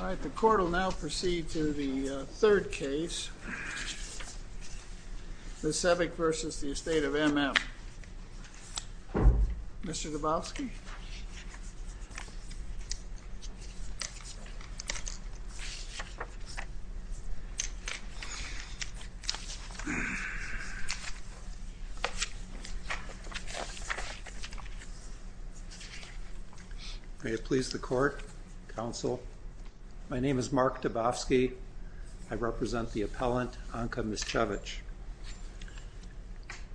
Alright, the court will now proceed to the third case, Miscevic v. Estate of M.M. Mr. Gabowski? May it please the court, counsel, my name is Mark Gabowski, I represent the appellant Anka Miscevic.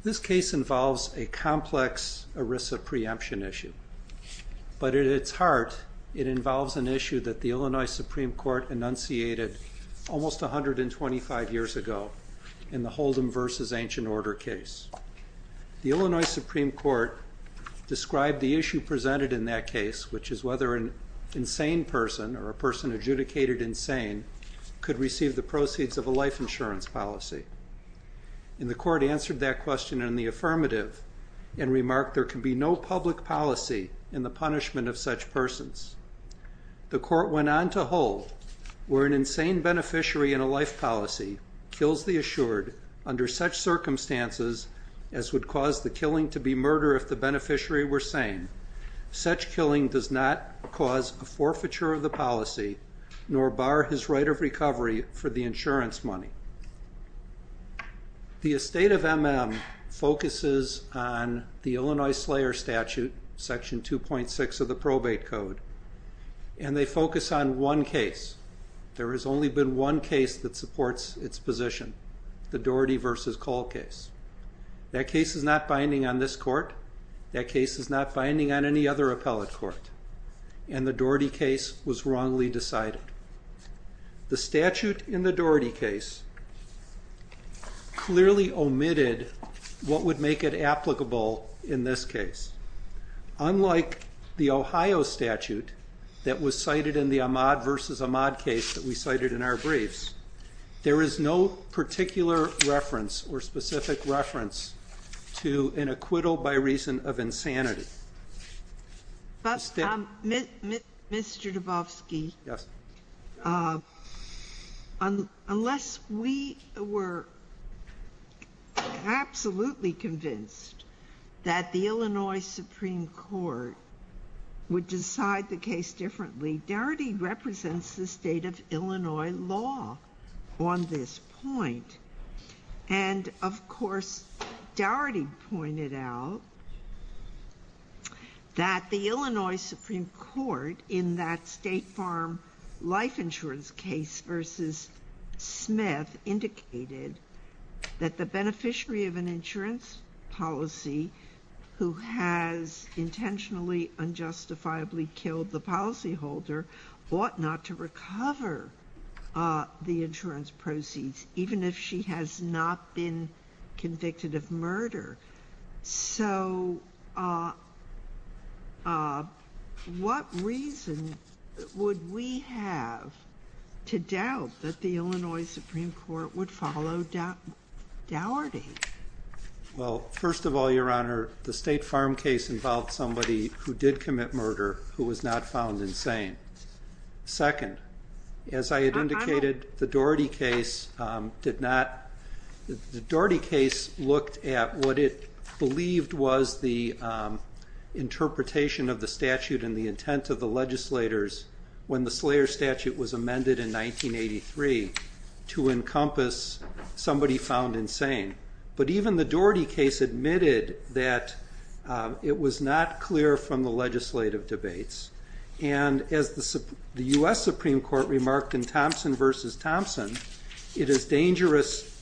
This case involves a complex ERISA preemption issue, but at its heart, it involves an issue that the Illinois Supreme Court enunciated almost 125 years ago in the Holden v. Ancient Order case. The Illinois Supreme Court described the issue presented in that case, which is whether an insane person or a person adjudicated insane could receive the proceeds of a life insurance policy. And the court answered that question in the affirmative, and remarked there can be no public policy in the punishment of such persons. The court went on to hold, where an insane beneficiary in a life policy kills the assured under such circumstances as would cause the killing to be murder if the beneficiary were sane, such killing does not cause a forfeiture of the policy, nor bar his right of recovery for the insurance money. The estate of M.M. focuses on the Illinois Slayer Statute, section 2.6 of the probate code, and they focus on one case. There has only been one case that supports its position, the Daugherty v. Cole case. That case is not binding on this court, that case is not binding on any other appellate court, and the Daugherty case was wrongly decided. The statute in the Daugherty case clearly omitted what would make it applicable in this case. Unlike the Ohio statute that was cited in the Ahmaud v. Ahmaud case that we cited in our briefs, there is no particular reference or specific reference to an acquittal by reason of insanity. Mr. Dubofsky, unless we were absolutely convinced that the Illinois Supreme Court would decide the case differently, Daugherty represents the state of Illinois law on this point, and of course, Daugherty pointed out that the Illinois Supreme Court in that State Farm Life Insurance case v. Smith indicated that the beneficiary of an insurance policy who has intentionally unjustifiably killed the policyholder ought not to recover the insurance proceeds, even if she has not been convicted of murder. So what reason would we have to doubt that the Illinois Supreme Court would follow Daugherty? Well, first of all, Your Honor, the State Farm case involved somebody who did commit murder who was not found insane. Second, as I had indicated, the Daugherty case looked at what it believed was the interpretation of the statute and the intent of the legislators when the Slayer statute was amended in 1983 to encompass somebody found insane. But even the Daugherty case admitted that it was not clear from the legislative debates, and as the U.S. Supreme Court remarked in Thompson v. Thompson, it is dangerous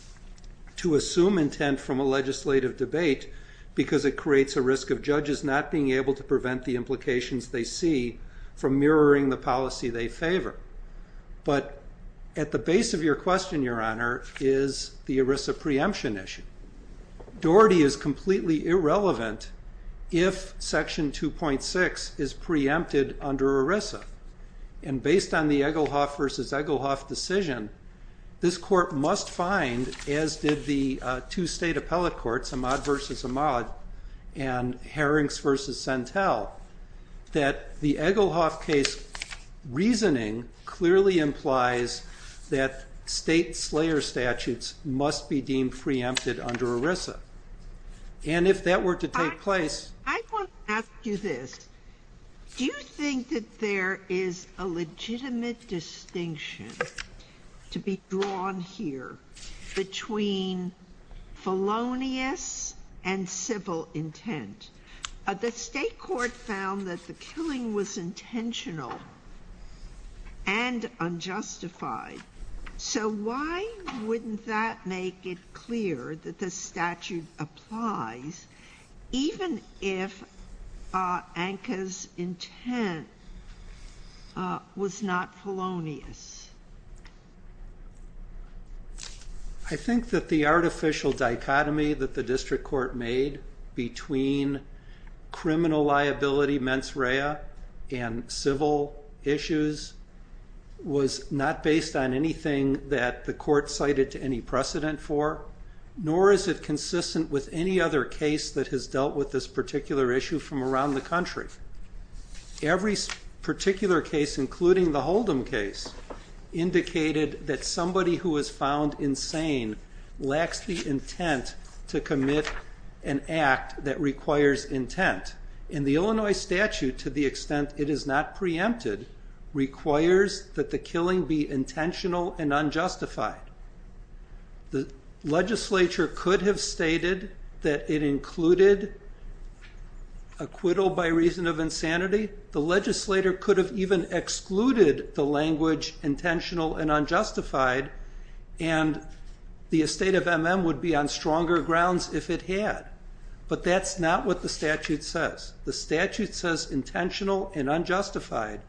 to assume intent from a legislative debate because it creates a risk of judges not being able to prevent the implications they see from mirroring the policy they favor. But at the base of your question, Your Honor, is the ERISA preemption issue. Daugherty is completely irrelevant if Section 2.6 is preempted under ERISA. And based on the Egelhoff v. Egelhoff decision, this Court must find, as did the two State Appellate Courts, Ahmaud v. Ahmaud and Harrings v. Sentel, that the Egelhoff case reasoning clearly implies that State Slayer statutes must be deemed preempted under ERISA. And if that were to take place... I want to ask you this. Do you think that there is a legitimate distinction to be drawn here between felonious and civil intent? The State Court found that the killing was intentional and unjustified. So why wouldn't that make it clear that this statute applies even if Anka's intent was not felonious? I think that the artificial dichotomy that the District Court made between criminal liability, mens rea, and civil issues was not based on anything that the Court cited to any precedent for, nor is it consistent with any other case that has dealt with this particular issue from around the country. Every particular case, including the Holdom case, indicated that somebody who was found insane lacks the intent to commit an act that requires intent. And the Illinois statute, to the extent it is not preempted, requires that the killing be intentional and unjustified. The legislature could have stated that it included acquittal by reason of insanity. The legislator could have even excluded the language intentional and unjustified, and the estate of M.M. would be on stronger grounds if it had. But that's not what the statute says. The statute says intentional and unjustified.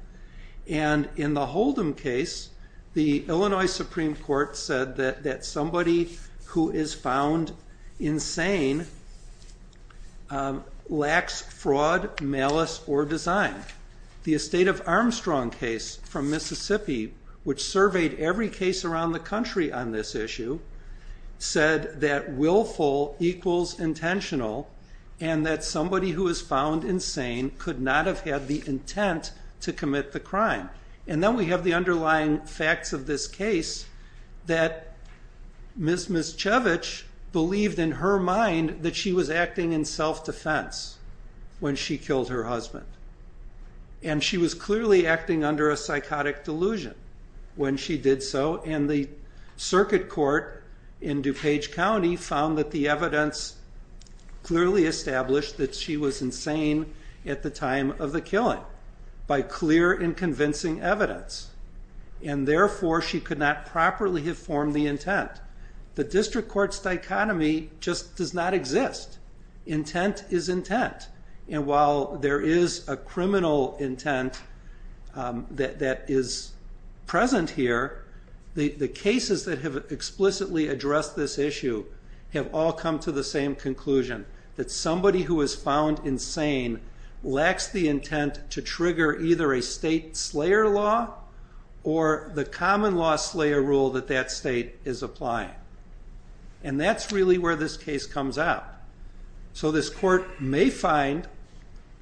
And in the Holdom case, the Illinois Supreme Court said that somebody who is found insane lacks fraud, malice, or design. The estate of Armstrong case from Mississippi, which surveyed every case around the country on this issue, said that willful equals intentional, and that somebody who is found insane could not have had the intent to commit the crime. And then we have the underlying facts of this case, that Ms. Miscevic believed in her mind that she was acting in self-defense when she killed her husband. And she was clearly acting under a psychotic delusion when she did so, and the circuit court in DuPage County found that the evidence clearly established that she was insane at the time of the killing by clear and convincing evidence. And therefore, she could not properly have formed the intent. The district court's dichotomy just does not exist. Intent is intent. And while there is a criminal intent that is present here, the cases that have explicitly addressed this issue have all come to the same conclusion, that somebody who is found insane lacks the intent to trigger either a state slayer law or the common law slayer rule that that state is applying. And that's really where this case comes out. So this court may find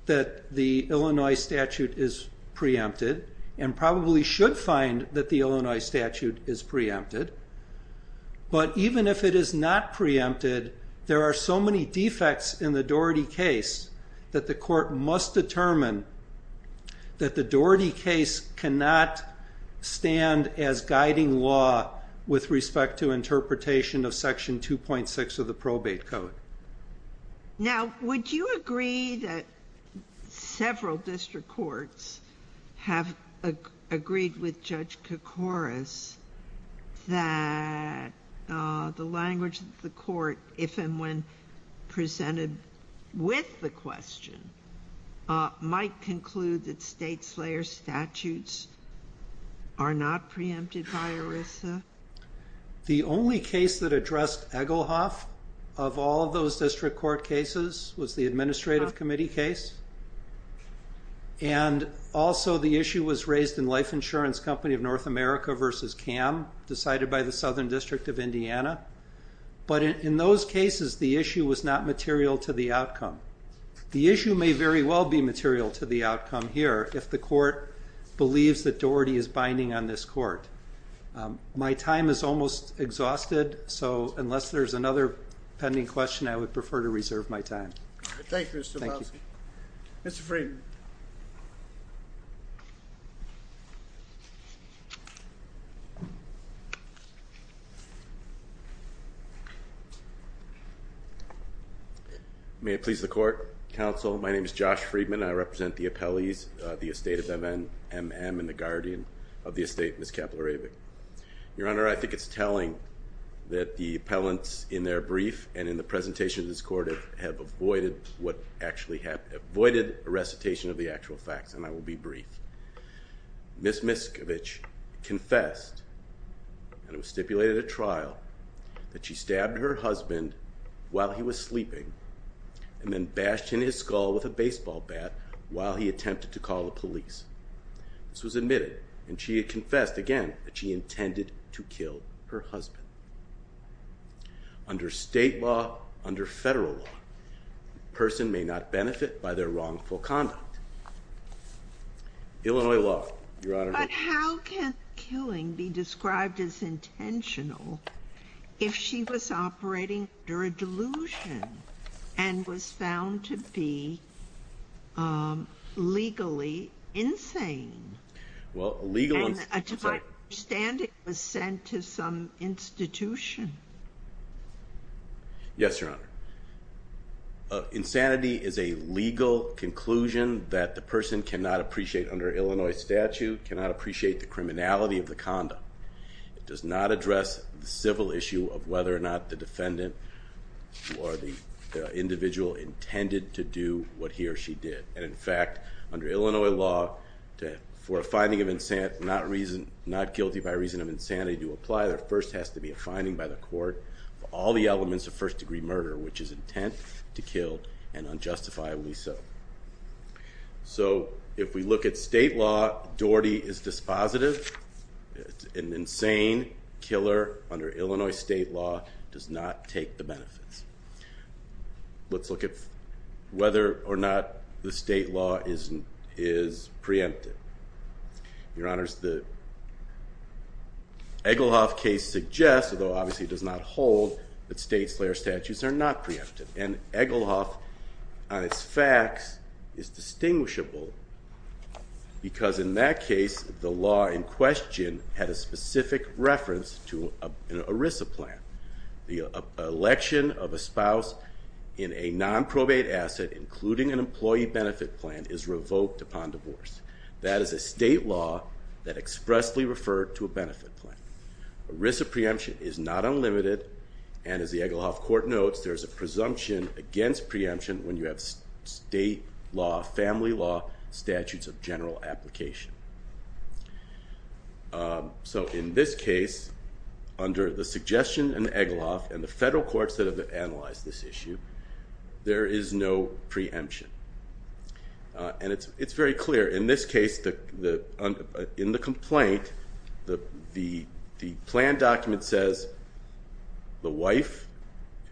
that the Illinois statute is preempted, and probably should find that the Illinois statute is preempted. But even if it is not preempted, there are so many defects in the Doherty case that the court must determine that the Doherty case cannot stand as guiding law with respect to interpretation of Section 2.6 of the Probate Code. Now, would you agree that several district courts have agreed with Judge Koukouras that the language of the court, if and when presented with the question, might conclude that state slayer statutes are not preempted by ERISA? The only case that addressed Egelhoff of all of those district court cases was the Administrative Committee case. And also the issue was raised in Life Insurance Company of North America v. CAM, decided by the Southern District of Indiana. But in those cases, the issue was not material to the outcome. The issue may very well be material to the outcome here if the court believes that Doherty is binding on this court. My time is almost exhausted, so unless there's another pending question, I would prefer to reserve my time. Thank you, Mr. Malski. Mr. Friedman. May it please the Court, Counsel, my name is Josh Friedman. I represent the appellees, the estate of M.M. and the guardian of the estate, Ms. Kaplarevic. Your Honor, I think it's telling that the appellants in their brief and in the presentation to this court have avoided a recitation of the actual facts, and I will be brief. Ms. Miskovic confessed, and it was stipulated at trial, that she stabbed her husband while he was sleeping and then bashed him in his skull with a baseball bat while he attempted to call the police. This was admitted, and she confessed again that she intended to kill her husband. Under state law, under federal law, a person may not benefit by their wrongful conduct. Illinois law, Your Honor. But how can killing be described as intentional if she was operating under a delusion and was found to be legally insane? Well, legal... And to my understanding, it was sent to some institution. Yes, Your Honor. Insanity is a legal conclusion that the person cannot appreciate under Illinois statute, cannot appreciate the criminality of the conduct. It does not address the civil issue of whether or not the defendant or the individual intended to do what he or she did. And in fact, under Illinois law, for a finding not guilty by reason of insanity to apply, there first has to be a finding by the court for all the elements of first-degree murder, which is intent to kill and unjustifiably so. So if we look at state law, Doherty is dispositive. An insane killer under Illinois state law does not take the benefits. Let's look at whether or not the state law is preemptive. Your Honors, the Egelhoff case suggests, although obviously it does not hold, that state slayer statutes are not preemptive. And Egelhoff, on its facts, is distinguishable because in that case, the law in question had a specific reference to an ERISA plan. The election of a spouse in a nonprobate asset, including an employee benefit plan, is revoked upon divorce. That is a state law that expressly referred to a benefit plan. ERISA preemption is not unlimited, and as the Egelhoff court notes, there is a presumption against preemption when you have state law, family law, statutes of general application. So in this case, under the suggestion in Egelhoff and the federal courts that have analyzed this issue, there is no preemption. And it's very clear. In this case, in the complaint, the plan document says the wife,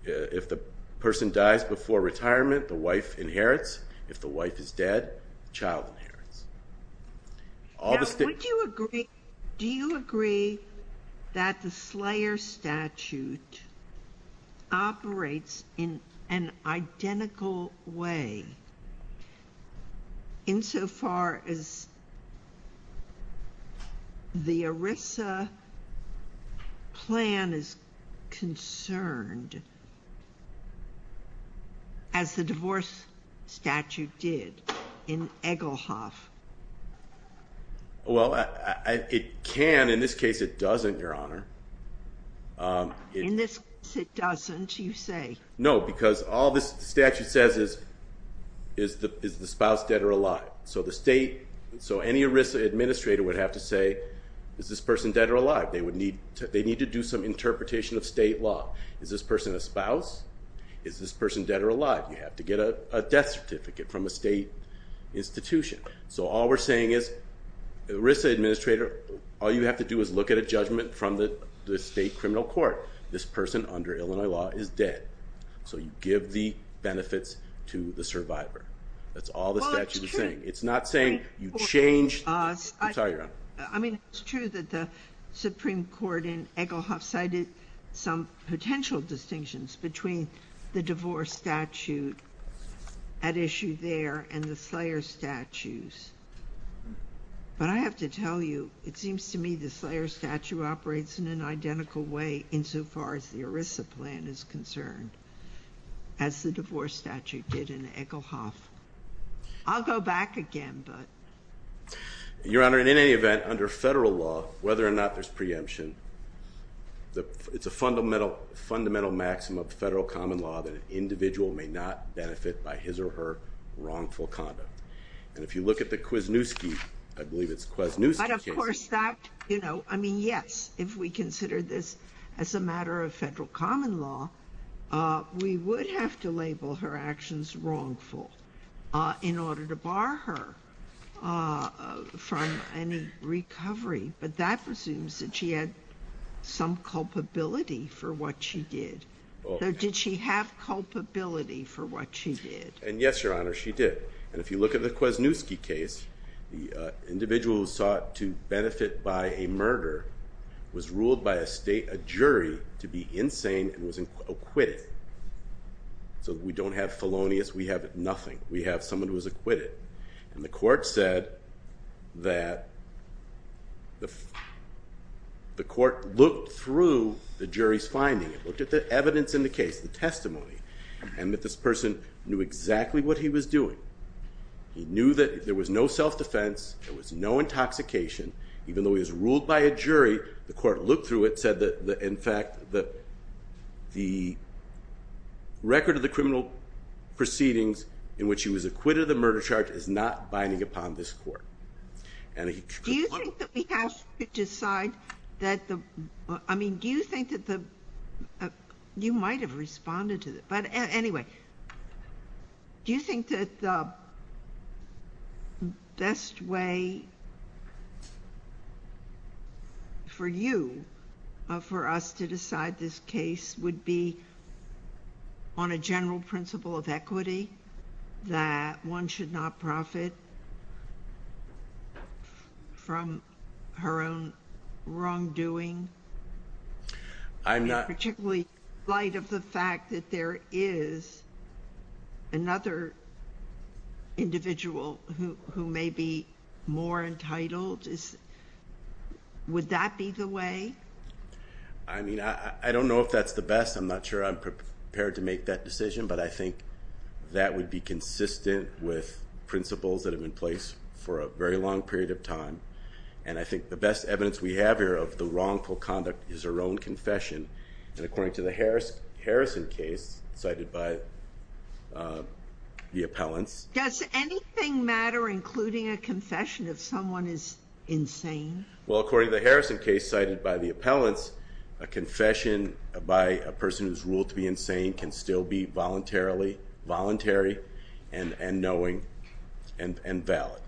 if the person dies before retirement, the wife inherits. If the wife is dead, the child inherits. Now, would you agree, do you agree that the slayer statute operates in an identical way insofar as the ERISA plan is concerned, as the divorce statute did in Egelhoff? Well, it can. In this case, it doesn't, Your Honor. In this case, it doesn't, you say? No, because all this statute says is, is the spouse dead or alive? So the state, so any ERISA administrator would have to say, is this person dead or alive? They need to do some interpretation of state law. Is this person a spouse? Is this person dead or alive? You have to get a death certificate from a state institution. So all we're saying is, ERISA administrator, all you have to do is look at a judgment from the state criminal court. This person under Illinois law is dead. So you give the benefits to the survivor. That's all the statute is saying. It's not saying you change the retirement. I mean, it's true that the Supreme Court in Egelhoff cited some potential distinctions between the divorce statute at issue there and the slayer statutes. But I have to tell you, it seems to me the slayer statute operates in an identical way insofar as the ERISA plan is concerned, as the divorce statute did in Egelhoff. I'll go back again, but... Your Honor, in any event, under federal law, whether or not there's preemption, it's a fundamental maximum of federal common law that an individual may not benefit by his or her wrongful conduct. And if you look at the Kwasniewski, I believe it's Kwasniewski case... I mean, yes, if we consider this as a matter of federal common law, we would have to label her actions wrongful in order to bar her from any recovery. But that presumes that she had some culpability for what she did. Did she have culpability for what she did? And yes, Your Honor, she did. And if you look at the Kwasniewski case, the individual who sought to benefit by a murder was ruled by a jury to be insane and was acquitted. So we don't have felonious, we have nothing. We have someone who was acquitted. And the court said that... The court looked through the jury's finding, looked at the evidence in the case, the testimony, and that this person knew exactly what he was doing. He knew that there was no self-defense, there was no intoxication. Even though he was ruled by a jury, the court looked through it, said that, in fact, the record of the criminal proceedings in which he was acquitted of the murder charge is not binding upon this court. And he... Do you think that we have to decide that the... I mean, do you think that the... You might have responded to that. But anyway... Do you think that the best way... for you, for us, to decide this case would be on a general principle of equity? That one should not profit... from her own wrongdoing? I'm not... In light of the fact that there is another individual who may be more entitled, would that be the way? I mean, I don't know if that's the best. I'm not sure I'm prepared to make that decision. But I think that would be consistent with principles that have been placed for a very long period of time. And I think the best evidence we have here of the wrongful conduct is her own confession. And according to the Harrison case cited by the appellants... Does anything matter, including a confession, if someone is insane? Well, according to the Harrison case cited by the appellants, a confession by a person who's ruled to be insane can still be voluntarily... voluntary and knowing and valid.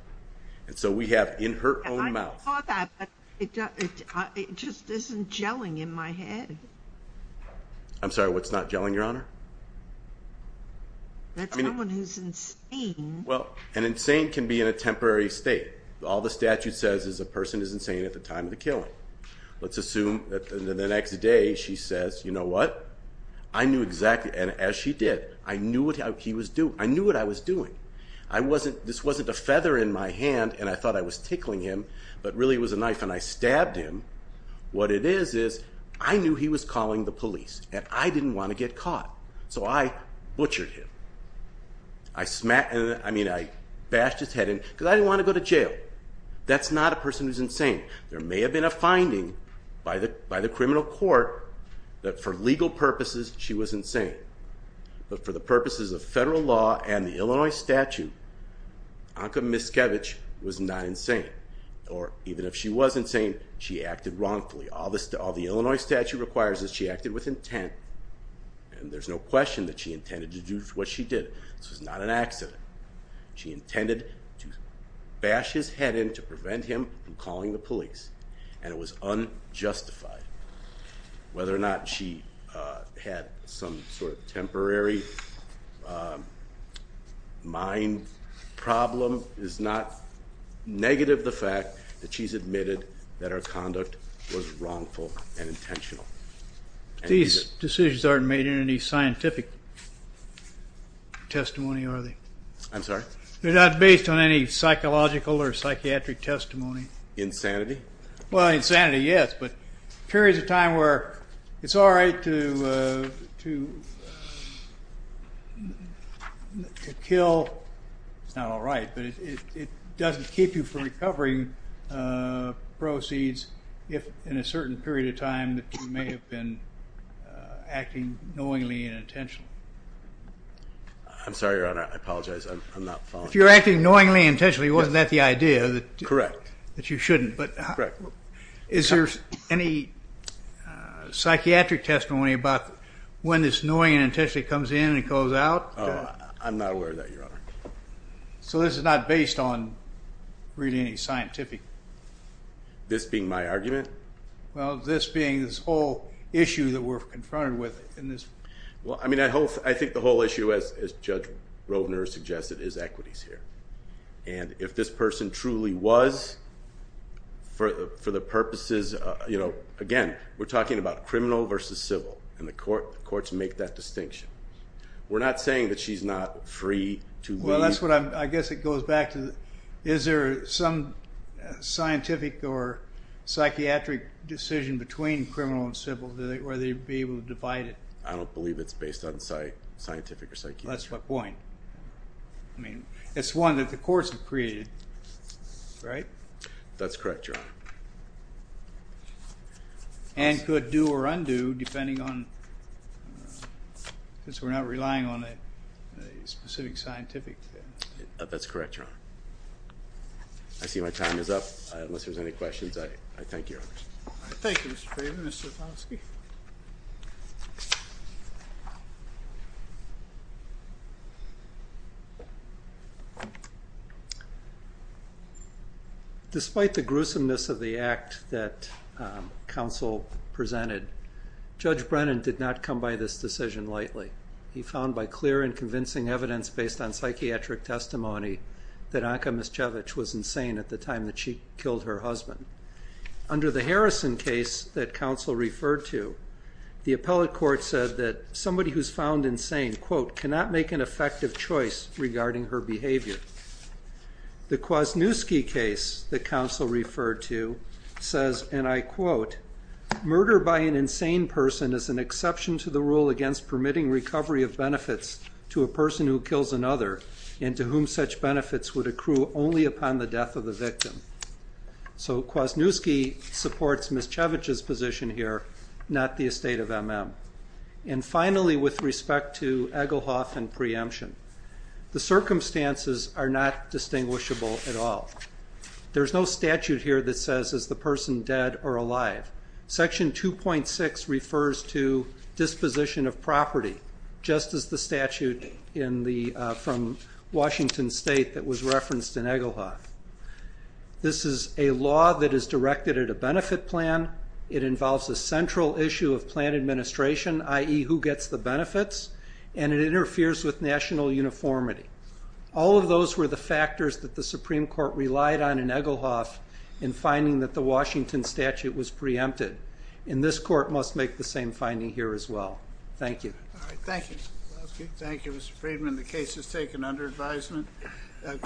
And so we have in her own mouth... I saw that, but it just isn't gelling in my head. I'm sorry, what's not gelling, Your Honor? That's someone who's insane. Well, an insane can be in a temporary state. All the statute says is a person is insane at the time of the killing. Let's assume that the next day she says, you know what, I knew exactly... And as she did, I knew what he was doing. I knew what I was doing. This wasn't a feather in my hand, and I thought I was tickling him, but really it was a knife, and I stabbed him. What it is is I knew he was calling the police, and I didn't want to get caught. So I butchered him. I smashed... I mean, I bashed his head in, because I didn't want to go to jail. That's not a person who's insane. There may have been a finding by the criminal court that for legal purposes she was insane, but for the purposes of federal law and the Illinois statute, Anka Miskevich was not insane. Or even if she was insane, she acted wrongfully. All the Illinois statute requires is she acted with intent, and there's no question that she intended to do what she did. This was not an accident. She intended to bash his head in to prevent him from calling the police, and it was unjustified. Whether or not she had some sort of temporary mind problem is not negative of the fact that she's admitted that her conduct was wrongful and intentional. These decisions aren't made in any scientific testimony, are they? I'm sorry? They're not based on any psychological or psychiatric testimony. Insanity? Well, insanity, yes, but periods of time where it's all right to kill. It's not all right, but it doesn't keep you from recovering proceeds if in a certain period of time that you may have been acting knowingly and intentionally. I'm sorry, Your Honor. I apologize. I'm not following. If you're acting knowingly and intentionally, wasn't that the idea? Correct. That you shouldn't, but is there any psychiatric testimony about when this knowingly and intentionally comes in and goes out? I'm not aware of that, Your Honor. So this is not based on really any scientific? This being my argument? Well, this being this whole issue that we're confronted with. Well, I mean, I think the whole issue, as Judge Rovner suggested, is equities here, and if this person truly was for the purposes of, again, we're talking about criminal versus civil, and the courts make that distinction. We're not saying that she's not free to leave. Well, that's what I'm, I guess it goes back to, is there some scientific or psychiatric decision between criminal and civil? Would they be able to divide it? I don't believe it's based on scientific or psychiatric. That's my point. I mean, it's one that the courts have created, right? That's correct, Your Honor. And could do or undo, depending on, since we're not relying on a specific scientific thing. That's correct, Your Honor. I see my time is up. Unless there's any questions, I thank you, Your Honor. Thank you, Mr. Craven. Mr. Foskey? Despite the gruesomeness of the act that counsel presented, Judge Brennan did not come by this decision lightly. He found by clear and convincing evidence based on psychiatric testimony that Anka Miscevich was insane at the time that she killed her husband. Under the Harrison case that counsel referred to, the appellate court said that somebody who's found insane, quote, cannot make an effective choice regarding her behavior. The Kwasniewski case that counsel referred to says, and I quote, murder by an insane person is an exception to the rule against permitting recovery of benefits to a person who kills another, and to whom such benefits would accrue only upon the death of the victim. So Kwasniewski supports Miscevich's position here, not the estate of MM. And finally, with respect to Egelhoff and preemption, the circumstances are not distinguishable at all. There's no statute here that says is the person dead or alive. Section 2.6 refers to disposition of property, just as the statute from Washington State that was referenced in Egelhoff. This is a law that is directed at a benefit plan. It involves a central issue of plan administration, i.e., who gets the benefits, and it interferes with national uniformity. All of those were the factors that the Supreme Court relied on in Egelhoff in finding that the Washington statute was preempted. And this court must make the same finding here as well. Thank you. Thank you, Mr. Friedman. The case is taken under advisement.